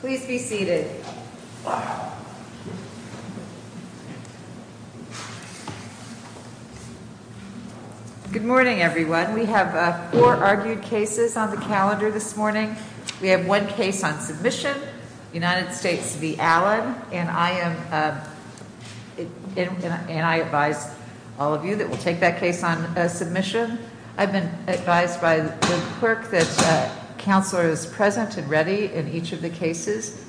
Please be seated. Good morning, everyone. We have four argued cases on the calendar this morning. We have one case on submission, United States v. Allen. And I advise all of you that we'll take that case on submission. I've been advised by the clerk that Counselor is present and ready in each of the cases.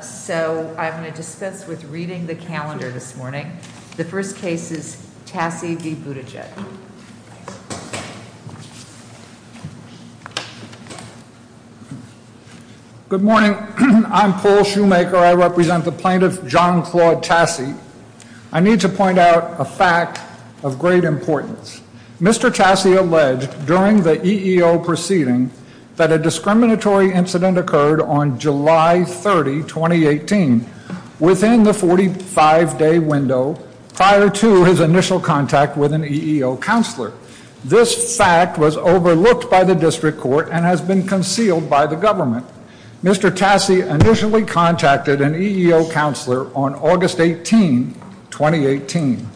So I'm going to dispense with reading the calendar this morning. The first case is Tassy v. Buttigieg. Good morning. I'm Paul Shoemaker. I represent the plaintiff, John Claude Tassy. I need to point out a fact of great importance. Mr. Tassy alleged during the EEO proceeding that a discriminatory incident occurred on July 30, 2018 within the 45-day window prior to his initial contact with an EEO counselor. This fact was overlooked by the district court and has been concealed by the government. Mr. Tassy initially contacted an EEO counselor on August 18, 2018.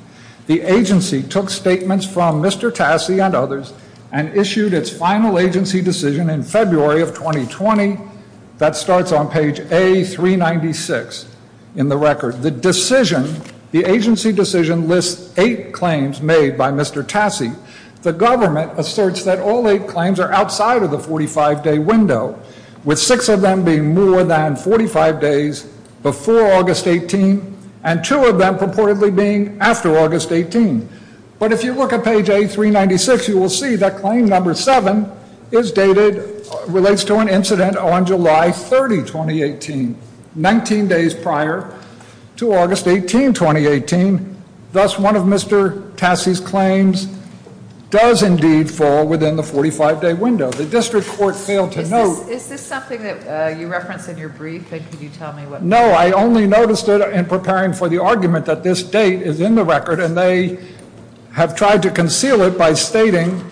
The agency took statements from Mr. Tassy and others and issued its final agency decision in February of 2020 that starts on page A396 in the record. The decision, the agency decision lists eight claims made by Mr. Tassy. The government asserts that all eight claims are outside of the 45-day window with six of them being more than 45 days before August 18 and two of them purportedly being after August 18. But if you look at page A396, you will see that claim number seven is dated, relates to an incident on July 30, 2018, 19 days prior to August 18, 2018. Thus, one of Mr. Tassy's claims does indeed fall within the 45-day window. The district court failed to note... Is this something that you referenced in your brief and can you tell me what... No, I only noticed it in preparing for the argument that this date is in the record and they have tried to conceal it by stating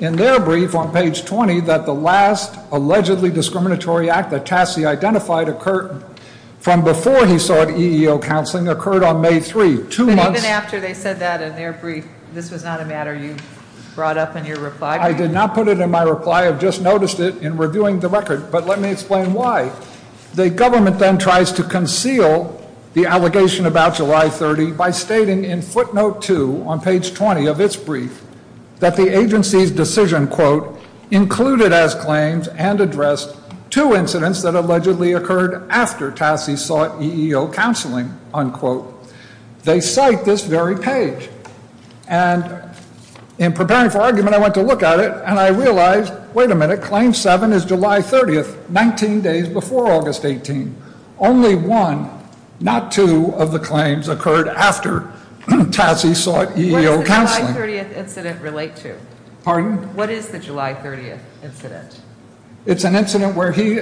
in their brief on page 20 that the last allegedly discriminatory act that Tassy identified occurred from before he sought EEO counseling occurred on May 3. Even after they said that in their brief, this was not a matter you brought up in your reply? I did not put it in my reply. I've just noticed it in reviewing the record. But let me explain why. The government then tries to conceal the allegation about July 30 by stating in footnote 2 on page 20 of its brief that the agency's decision, quote, included as claims and addressed two incidents that allegedly occurred after Tassy sought EEO counseling, unquote. They cite this very page. And in preparing for argument, I went to look at it and I realized, wait a minute, claim 7 is July 30, 19 days before August 18. Only one, not two of the claims occurred after Tassy sought EEO counseling. What does the July 30 incident relate to? Pardon? What is the July 30 incident? It's an incident where he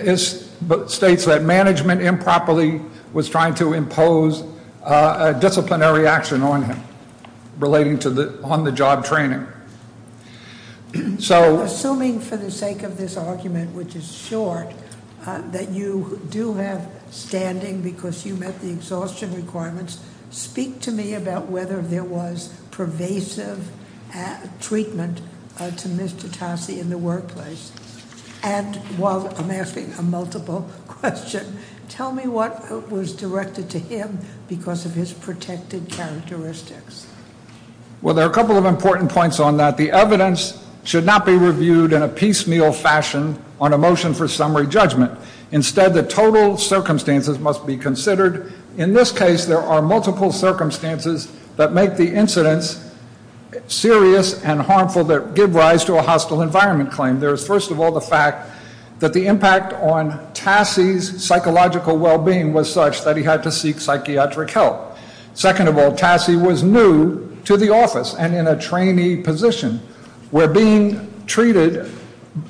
states that management improperly was trying to impose a disciplinary action on him relating to the on-the-job training. So- Assuming for the sake of this argument, which is short, that you do have standing because you met the exhaustion requirements, speak to me about whether there was pervasive treatment to Mr. Tassy in the workplace. And while I'm asking a multiple question, tell me what was directed to him because of his protected characteristics. Well, there are a couple of important points on that. The evidence should not be reviewed in a piecemeal fashion on a motion for summary judgment. Instead, the total circumstances must be considered. In this case, there are multiple circumstances that make the incidents serious and harmful that give rise to a hostile environment claim. There is, first of all, the fact that the impact on Tassy's psychological well-being was such that he had to seek psychiatric help. Second of all, Tassy was new to the office and in a trainee position where being treated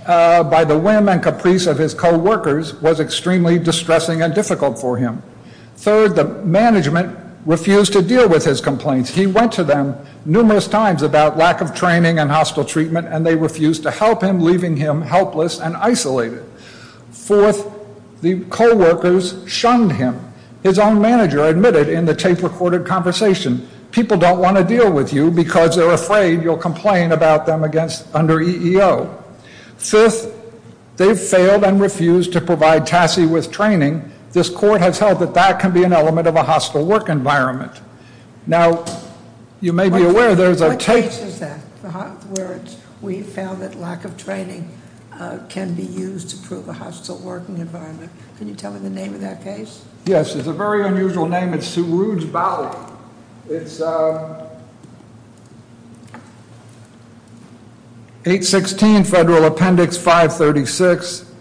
by the whim and caprice of his co-workers was extremely distressing and difficult for him. Third, the management refused to deal with his complaints. He went to them numerous times about lack of training and hostile treatment, and they refused to help him, leaving him helpless and isolated. Fourth, the co-workers shunned him. His own manager admitted in the tape-recorded conversation, people don't want to deal with you because they're afraid you'll complain about them under EEO. Fifth, they've failed and refused to provide Tassy with training. This court has held that that can be an element of a hostile work environment. Now, you may be aware there's a- What case is that where we found that lack of training can be used to prove a hostile working environment? Can you tell me the name of that case? Yes, it's a very unusual name. It's Saruj Balak. It's 816 Federal Appendix 536,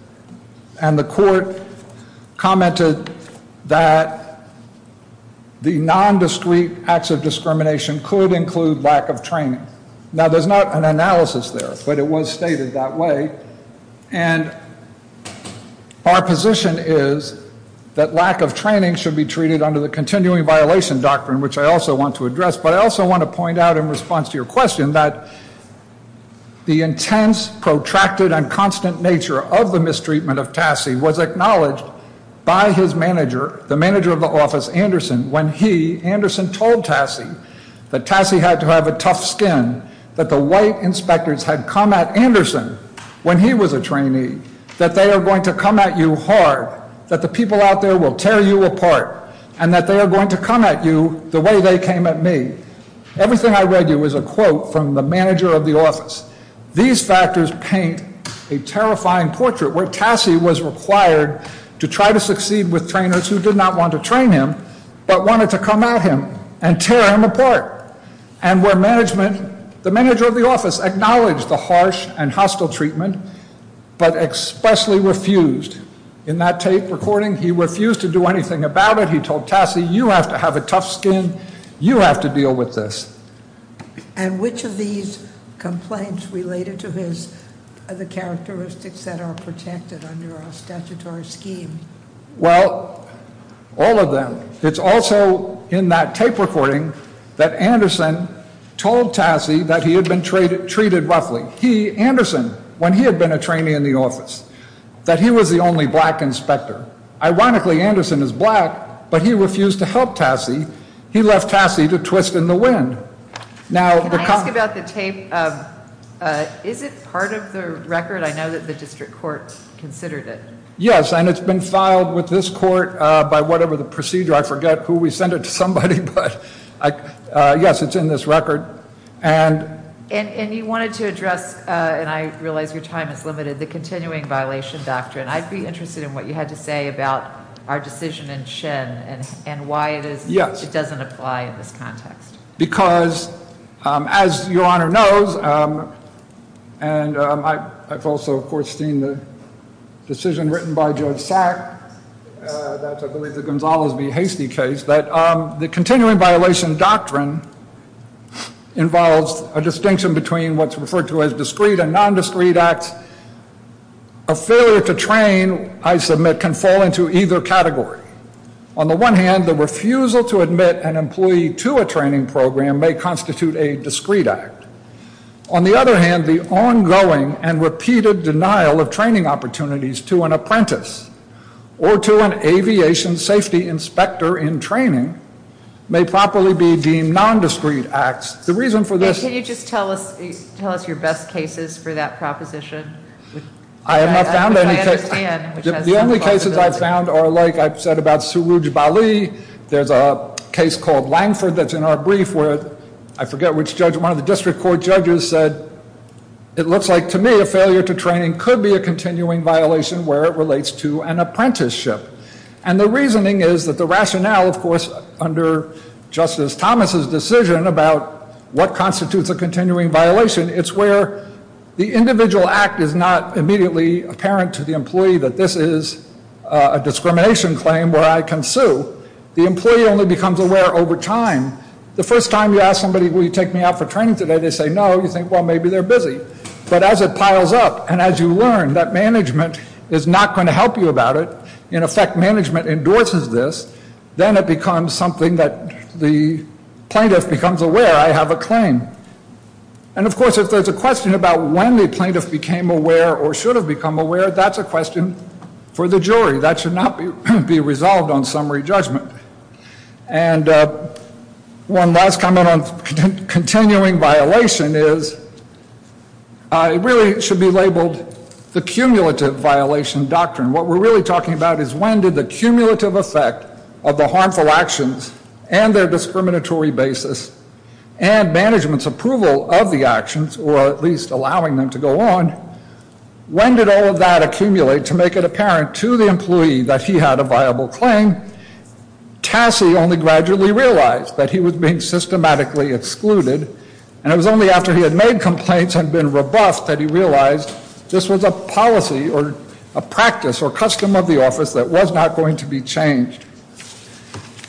and the court commented that the nondiscreet acts of discrimination could include lack of training. Now, there's not an analysis there, but it was stated that way, and our position is that lack of training should be treated under the continuing violation doctrine, which I also want to address, but I also want to point out in response to your question that the intense, protracted, and constant nature of the mistreatment of Tassy was acknowledged by his manager, the manager of the office, Anderson, when he, Anderson, told Tassy that Tassy had to have a tough skin, that the white inspectors had come at Anderson when he was a trainee, that they are going to come at you hard, that the people out there will tear you apart, and that they are going to come at you the way they came at me. Everything I read you is a quote from the manager of the office. These factors paint a terrifying portrait where Tassy was required to try to succeed with trainers who did not want to train him, but wanted to come at him and tear him apart, and where management, the manager of the office, acknowledged the harsh and hostile treatment, but expressly refused. In that tape recording, he refused to do anything about it. He told Tassy, you have to have a tough skin. You have to deal with this. And which of these complaints related to his, the characteristics that are protected under our statutory scheme? Well, all of them. It's also in that tape recording that Anderson told Tassy that he had been treated roughly. He, Anderson, when he had been a trainee in the office, that he was the only black inspector. Ironically, Anderson is black, but he refused to help Tassy. He left Tassy to twist in the wind. Now, the- Can I ask about the tape? Is it part of the record? I know that the district court considered it. Yes, and it's been filed with this court by whatever the procedure. I forget who we sent it to somebody, but yes, it's in this record. And- And you wanted to address, and I realize your time is limited, the continuing violation doctrine. I'd be interested in what you had to say about our decision in Shen and why it is- Yes. It doesn't apply in this context. Because, as your Honor knows, and I've also, of course, seen the decision written by Judge Sack, that's, I believe, the Gonzales v. Hastie case, that the continuing violation doctrine involves a distinction between what's referred to as discreet and nondiscreet acts. A failure to train, I submit, can fall into either category. On the one hand, the refusal to admit an employee to a training program may constitute a discreet act. On the other hand, the ongoing and repeated denial of training opportunities to an apprentice or to an aviation safety inspector in training may properly be deemed nondiscreet acts. The reason for this- Can you just tell us your best cases for that proposition? I have not found any cases. The only cases I've found are like I've said about Suruj Bali. There's a case called Langford that's in our brief where, I forget which judge, one of the district court judges said, it looks like, to me, a failure to training could be a continuing violation where it relates to an apprenticeship. And the reasoning is that the rationale, of course, under Justice Thomas's decision about what constitutes a continuing violation, it's where the individual act is not immediately apparent to the employee that this is a discrimination claim where I can sue. The employee only becomes aware over time. The first time you ask somebody, will you take me out for training today? They say no. You think, well, maybe they're busy. But as it piles up and as you learn that management is not going to help you about it, in effect, management endorses this, then it becomes something that the plaintiff becomes aware I have a claim. And of course, if there's a question about when the plaintiff became aware or should have become aware, that's a question for the jury. That should not be resolved on summary judgment. And one last comment on continuing violation is it really should be labeled the cumulative violation doctrine. What we're really talking about is when did the cumulative effect of the harmful actions and their discriminatory basis and management's approval of the actions, or at least allowing them to go on, when did all of that accumulate to make it apparent to the employee that he had a viable claim Tassie only gradually realized that he was being systematically excluded and it was only after he had made complaints and been rebuffed that he realized this was a policy or a practice or custom of the office that was not going to be changed.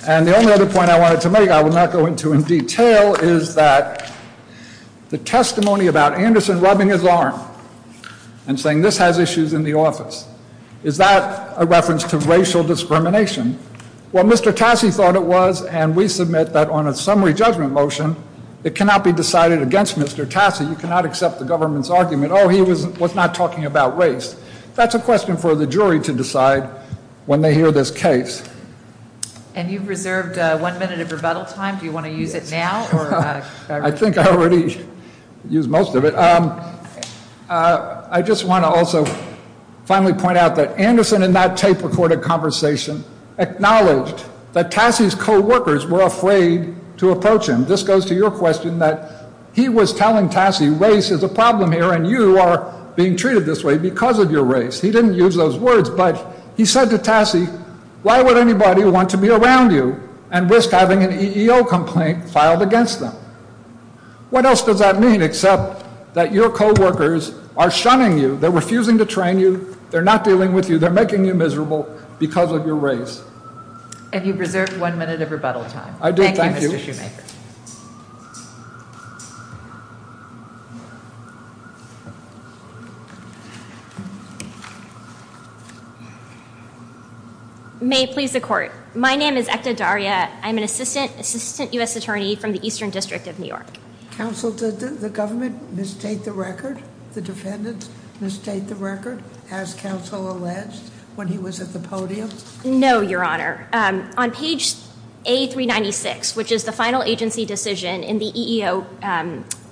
And the only other point I wanted to make, I will not go into in detail, is that the testimony about Anderson rubbing his arm and saying this has issues in the office, is that a reference to racial discrimination? What Mr. Tassie thought it was, and we submit that on a summary judgment motion, it cannot be decided against Mr. Tassie. You cannot accept the government's argument, oh, he was not talking about race. That's a question for the jury to decide when they hear this case. And you've reserved one minute of rebuttal time. Do you want to use it now? I think I already used most of it. I just want to also finally point out that Anderson in that tape recorded conversation acknowledged that Tassie's co-workers were afraid to approach him. This goes to your question that he was telling Tassie race is a problem here and you are being treated this way because of your race. He didn't use those words, but he said to Tassie, why would anybody want to be around you and risk having an EEO complaint filed against them? What else does that mean except that your co-workers are shunning you, they're refusing to train you, they're not dealing with you, they're making you miserable because of your race. And you've reserved one minute of rebuttal time. I do. Thank you. May it please the court. My name is Ekta Daria. I'm an assistant assistant U.S. attorney from the Eastern District of New York. Counsel, did the government misstate the record? The defendants misstate the record as counsel alleged when he was at the podium? No, your honor. On page A396, which is the final agency decision in the EEO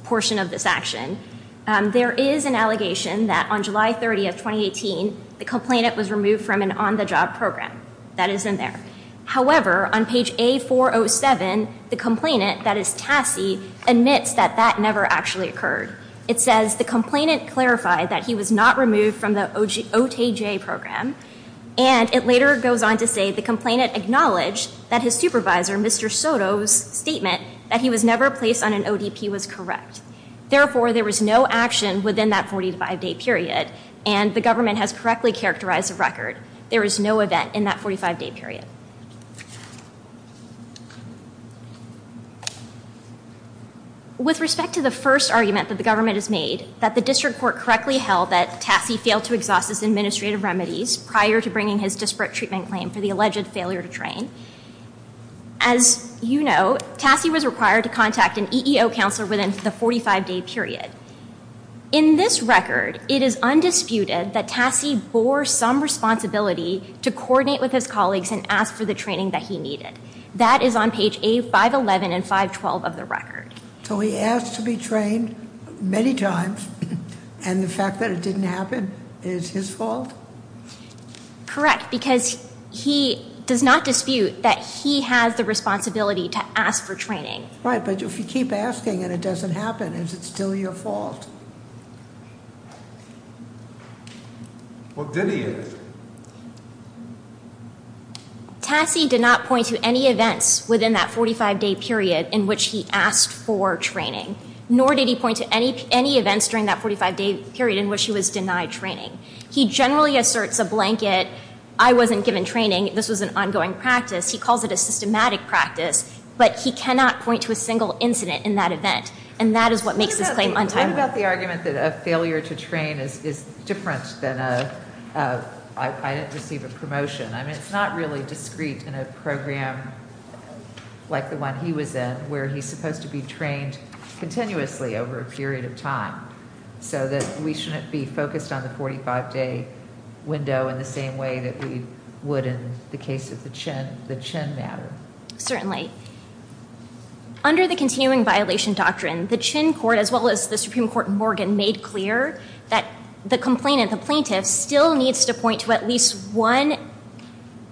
portion of this action, there is an allegation that on July 30th, 2018, the complainant was removed from an on-the-job program. That is in there. However, on page A407, the complainant, that is Tassie, admits that that never actually occurred. It says the complainant clarified that he was not removed from the OTJ program, and it later goes on to say the complainant acknowledged that his supervisor, Mr. Soto's statement that he was never placed on an ODP was correct. Therefore, there was no action within that 45-day period, and the government has correctly characterized the record. There is no event in that 45-day period. With respect to the first argument that the government has made, that the district court correctly held that Tassie failed to exhaust his administrative remedies prior to bringing his disparate treatment claim for the alleged failure to train, as you know, Tassie was required to contact an EEO counselor within the 45-day period. In this record, it is undisputed that Tassie bore some responsibility to coordinate with his for the training that he needed. That is on page A511 and 512 of the record. So he asked to be trained many times, and the fact that it didn't happen is his fault? Correct, because he does not dispute that he has the responsibility to ask for training. Right, but if you keep asking and it doesn't happen, is it still your fault? Well, then he is. Tassie did not point to any events within that 45-day period in which he asked for training, nor did he point to any events during that 45-day period in which he was denied training. He generally asserts a blanket, I wasn't given training, this was an ongoing practice. He calls it a systematic practice, but he cannot point to a single incident in that event, and that is what makes this claim untimely. What about the argument that a failure to train is different than a, I didn't receive a promotion? I mean, it's not really discreet in a program like the one he was in, where he's supposed to be trained continuously over a period of time, so that we shouldn't be focused on the 45-day window in the same way that we would in the case of the Chin matter. Certainly. Under the continuing violation doctrine, the Chin Court, as well as the Supreme Court in Morgan, made clear that the complainant, the plaintiff, still needs to point to at least one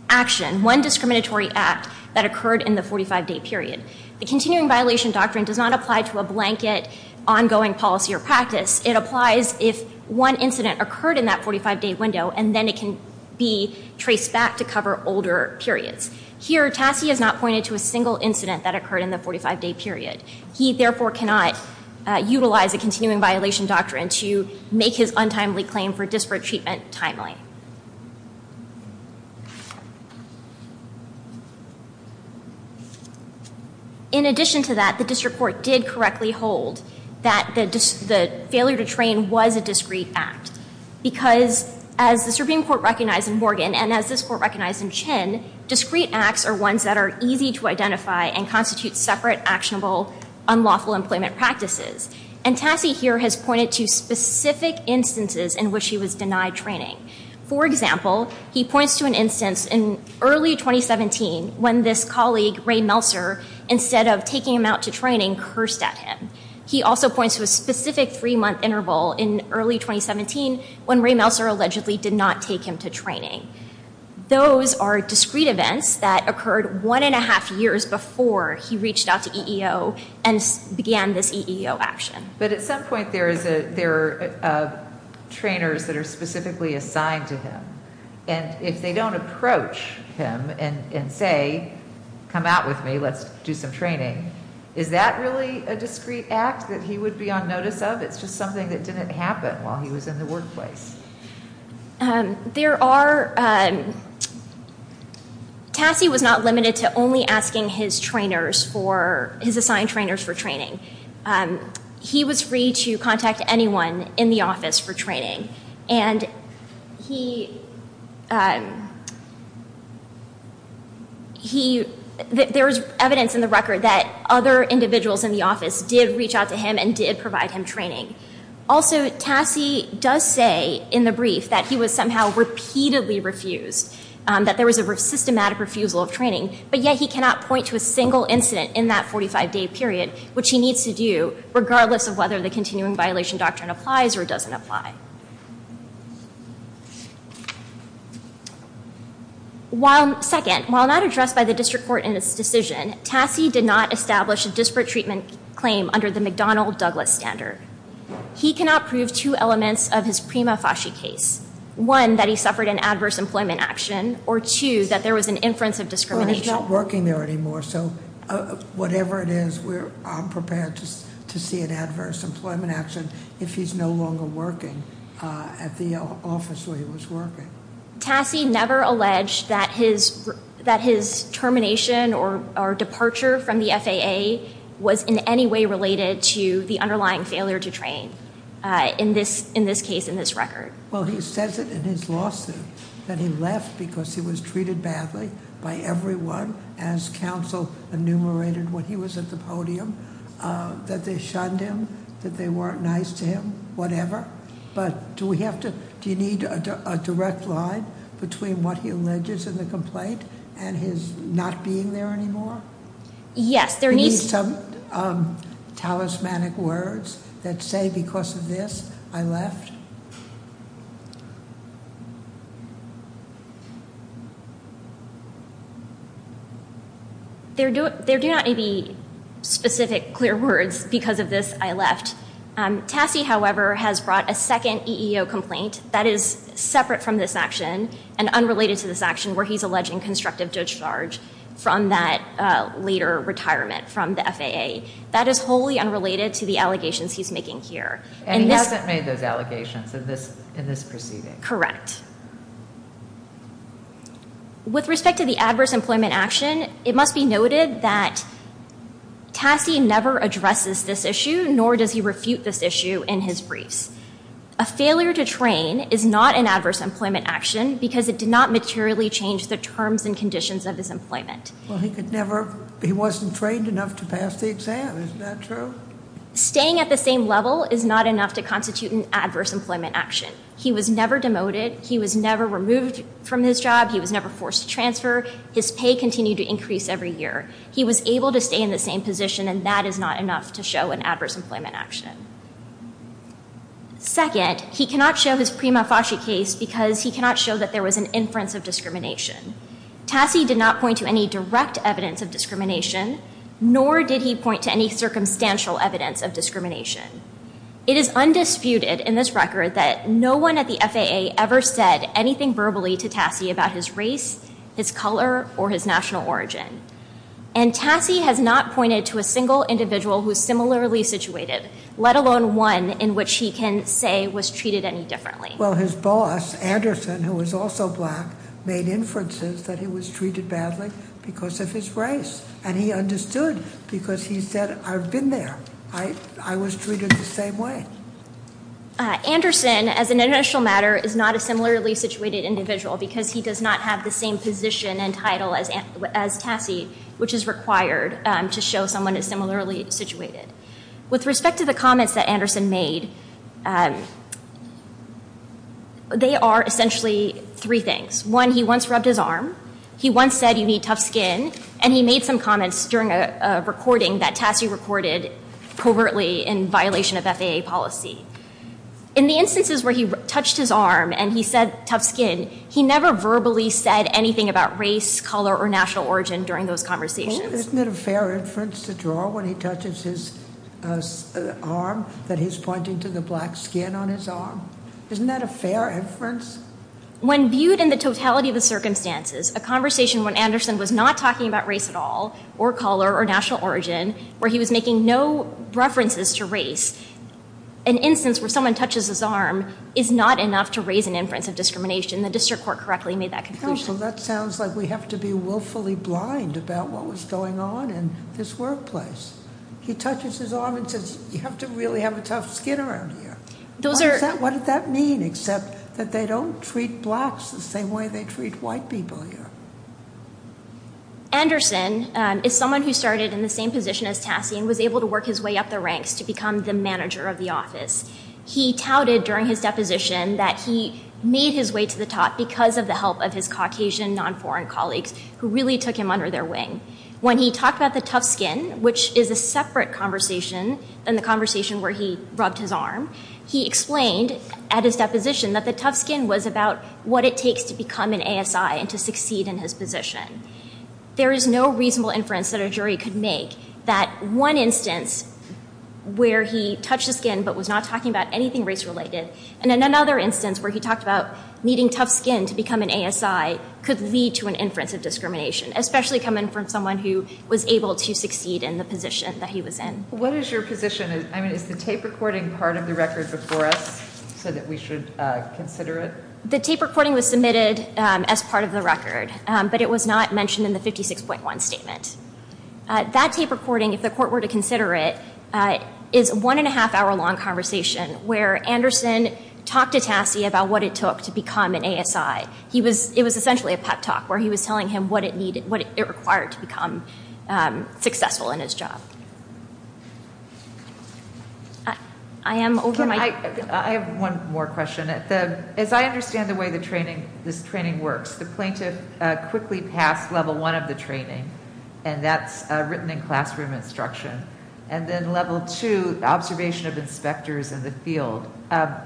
action, one discriminatory act that occurred in the 45-day period. The continuing violation doctrine does not apply to a blanket ongoing policy or practice. It applies if one incident occurred in that 45-day window, and then it can be traced back to cover older periods. Here, Tassie has not pointed to a single incident that occurred in the 45-day period. He, therefore, cannot utilize a continuing violation doctrine to make his untimely claim for disparate treatment timely. In addition to that, the district court did correctly hold that the failure to train was a discreet act. Because, as the Supreme Court recognized in Morgan, and as this Court recognized in Chin, discreet acts are ones that are easy to identify and constitute separate, actionable, unlawful employment practices. And Tassie here has pointed to specific instances in which he was denied training. For example, he points to an instance in early 2017 when this colleague, Ray Melser, instead of taking him out to training, cursed at him. He also points to a specific three-month interval in early 2017 when Ray Melser allegedly did not take him to training. Those are discreet events that occurred one and a half years before he reached out to EEO and began this EEO action. But at some point, there are trainers that are specifically assigned to him. And if they don't approach him and say, come out with me, let's do some training, is that really a discreet act that he would be on notice of? It's just something that didn't happen while he was in the workplace. Tassie was not limited to only asking his assigned trainers for training. He was free to contact anyone in the office for training. And there was evidence in the record that other individuals in the office did reach out to him and did provide him training. Also, Tassie does say in the brief that he was somehow repeatedly refused, that there was a systematic refusal of training, but yet he cannot point to a single incident in that 45-day period, which he needs to do regardless of whether the continuing violation doctrine applies or doesn't apply. Second, while not addressed by the district court in its decision, Tassie did not establish a disparate treatment claim under the McDonnell-Douglas standard. He cannot prove two elements of his Prima Fasci case. One, that he suffered an adverse employment action, or two, that there was an inference of discrimination. He's not working there anymore. So whatever it is, I'm prepared to see an adverse employment action if he's no longer working at the office where he was working. Tassie never alleged that his termination or departure from the FAA was in any way related to the underlying failure to train in this case, in this record. Well, he says it in his lawsuit, that he left because he was treated badly by everyone, as counsel enumerated when he was at the podium, that they shunned him, that they weren't nice to him, whatever. But do we have to, do you need a direct line between what he alleges in the complaint and his not being there anymore? Yes, there needs- Some talismanic words that say, because of this, I left? There do not need to be specific, clear words, because of this, I left. Tassie, however, has brought a second EEO complaint that is separate from this action and unrelated to this action, where he's alleging constructive discharge from that later retirement from the FAA. That is wholly unrelated to the allegations he's making here. And he hasn't made those allegations in this proceeding. Correct. With respect to the adverse employment action, it must be noted that Tassie never addresses this issue, nor does he refute this issue in his briefs. A failure to train is not an adverse employment action because it did not materially change the terms and conditions of his employment. Well, he could never, he wasn't trained enough to pass the exam. Isn't that true? Staying at the same level is not enough to constitute an adverse employment action. He was never demoted. He was never removed from his job. He was never forced to transfer. His pay continued to increase every year. He was able to stay in the same position, and that is not enough to show an adverse employment action. Second, he cannot show his prima facie case because he cannot show that there was an inference of discrimination. Tassie did not point to any direct evidence of discrimination, nor did he point to any circumstantial evidence of discrimination. It is undisputed in this record that no one at the FAA ever said anything verbally to Tassie about his race, his color, or his national origin. And Tassie has not pointed to a single individual who is similarly situated, let alone one in which he can say was treated any differently. Well, his boss, Anderson, who was also black, made inferences that he was treated badly because of his race. And he understood because he said, I've been there. I was treated the same way. Anderson, as an international matter, is not a similarly situated individual because he does not have the same position and title as Tassie, which is required to show someone as similarly situated. With respect to the comments that Anderson made, they are essentially three things. One, he once rubbed his arm. He once said, you need tough skin. And he made some comments during a recording that Tassie recorded covertly in violation of FAA policy. In the instances where he touched his arm and he said tough skin, he never verbally said anything about race, color, or national origin during those conversations. Isn't it a fair inference to draw when he touches his arm that he's pointing to the black skin on his arm? Isn't that a fair inference? When viewed in the totality of the circumstances, a conversation when Anderson was not talking about race at all, or color, or national origin, where he was making no references to race, an instance where someone touches his arm is not enough to raise an inference of discrimination. The district court correctly made that conclusion. That sounds like we have to be willfully blind about what was going on in this workplace. He touches his arm and says, you have to really have a tough skin around here. What did that mean? Except that they don't treat blacks the same way they treat white people here. Anderson is someone who started in the same position as Tassie and was able to work his way up the ranks to become the manager of the office. He touted during his deposition that he made his way to the top because of the help of his Caucasian non-foreign colleagues who really took him under their wing. When he talked about the tough skin, which is a separate conversation than the conversation where he rubbed his arm, he explained at his deposition that the tough skin was about what it takes to become an ASI and to succeed in his position. There is no reasonable inference that a jury could make that one instance where he touched the skin but was not talking about anything race-related, and another instance where he talked about needing tough skin to become an ASI could lead to an inference of discrimination, especially coming from someone who was able to succeed in the position that he was in. What is your position? I mean, is the tape recording part of the record before us so that we should consider it? The tape recording was submitted as part of the record, but it was not mentioned in the 56.1 statement. That tape recording, if the court were to consider it, is a one and a half hour long conversation where Anderson talked to Tassi about what it took to become an ASI. It was essentially a pep talk where he was telling him what it required to become successful in his job. I have one more question. As I understand the way this training works, the plaintiff quickly passed level one of the training, and that's written in classroom instruction, and then level two, observation of inspectors in the field.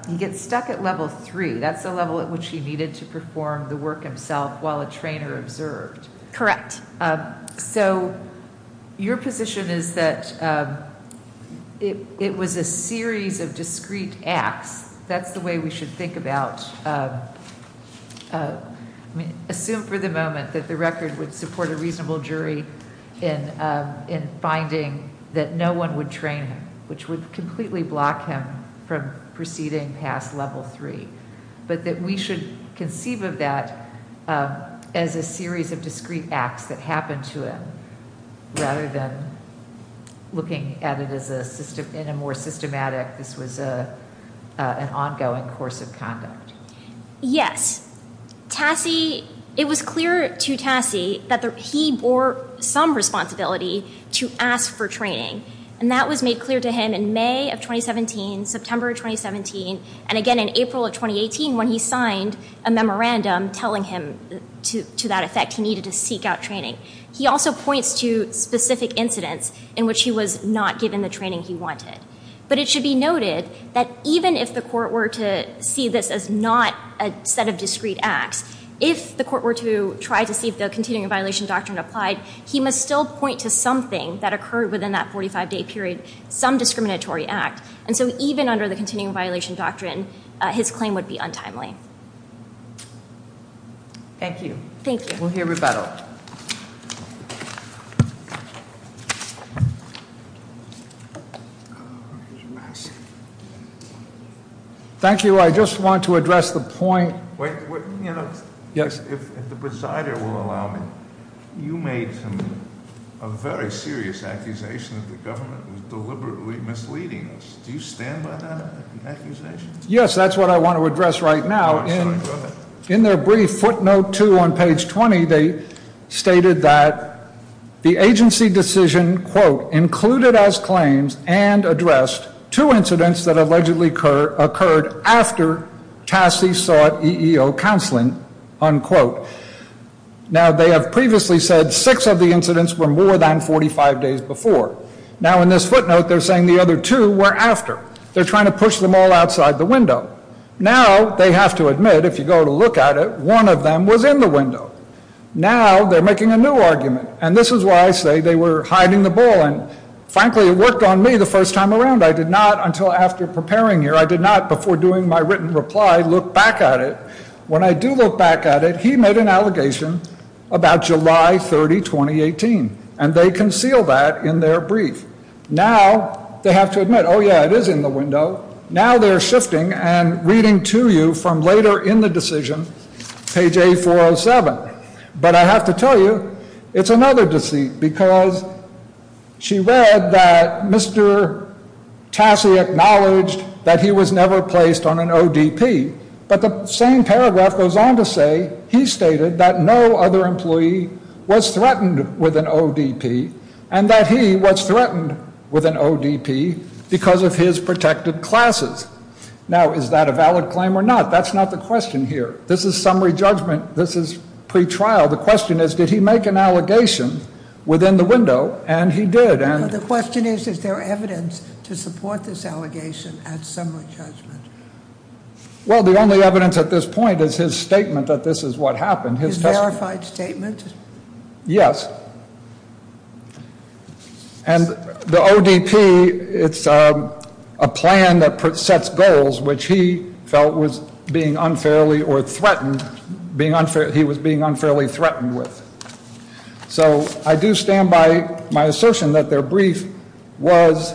He gets stuck at level three. That's the level at which he needed to perform the work himself while a trainer observed. Correct. So your position is that it was a series of discrete acts. That's the way we should think about... Assume for the moment that the record would support a reasonable jury in finding that no one would train him, which would completely block him from proceeding past level three, but that we should conceive of that as a series of discrete acts that happened to him rather than looking at it in a more systematic... This was an ongoing course of conduct. Yes. Tassie... It was clear to Tassie that he bore some responsibility to ask for training, and that was made clear to him in May of 2017, September of 2017, and again in April of 2018 when he signed a memorandum telling him to that effect he needed to seek out training. He also points to specific incidents in which he was not given the training he wanted, but it should be noted that even if the court were to see this as not a set of discrete acts, if the court were to try to see the continuing violation doctrine applied, he must still point to something that occurred within that 45-day period, some discriminatory act, and so even under the continuing violation doctrine, his claim would be untimely. Thank you. Thank you. We'll hear rebuttal. Thank you. Thank you. I just want to address the point... Wait, you know, if the presider will allow me, you made a very serious accusation that the government was deliberately misleading us. Do you stand by that accusation? Yes, that's what I want to address right now. I'm sorry, go ahead. In their brief footnote two on page 20, they stated that the agency decision, quote, included as claims and addressed two incidents that allegedly occurred after TASI sought EEO counseling, unquote. Now, they have previously said six of the incidents were more than 45 days before. Now, in this footnote, they're saying the other two were after. They're trying to push them all outside the window. Now, they have to admit, if you go to look at it, one of them was in the window. Now, they're making a new argument, and this is why I say they were hiding the ball, and frankly, it worked on me the first time around. I did not, until after preparing here, I did not, before doing my written reply, look back at it. When I do look back at it, he made an allegation about July 30, 2018, and they conceal that in their brief. Now, they have to admit, oh, yeah, it is in the window. Now, they're shifting and reading to you from later in the decision, page A407. But I have to tell you, it's another deceit, because she read that Mr. Tassi acknowledged that he was never placed on an ODP. But the same paragraph goes on to say, he stated that no other employee was threatened with an ODP, and that he was threatened with an ODP because of his protected classes. Now, is that a valid claim or not? That's not the question here. This is summary judgment. This is pretrial. The question is, did he make an allegation within the window? And he did. And the question is, is there evidence to support this allegation at summary judgment? Well, the only evidence at this point is his statement that this is what happened. His verified statement? Yes. And the ODP, it's a plan that sets goals, which he felt was being unfairly or threatened, being unfair, he was being unfairly threatened with. So I do stand by my assertion that their brief was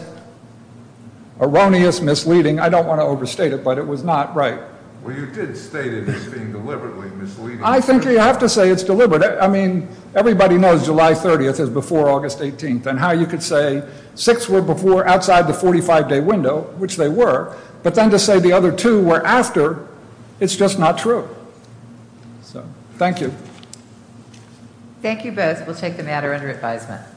erroneous, misleading. I don't want to overstate it, but it was not right. Well, you did state it as being deliberately misleading. I think you have to say it's deliberate. I mean, everybody knows July 30th is before August 18th, and how you could say six were before outside the 45-day window, which they were. But then to say the other two were after, it's just not true. So thank you. Thank you both. We'll take the matter under advisement.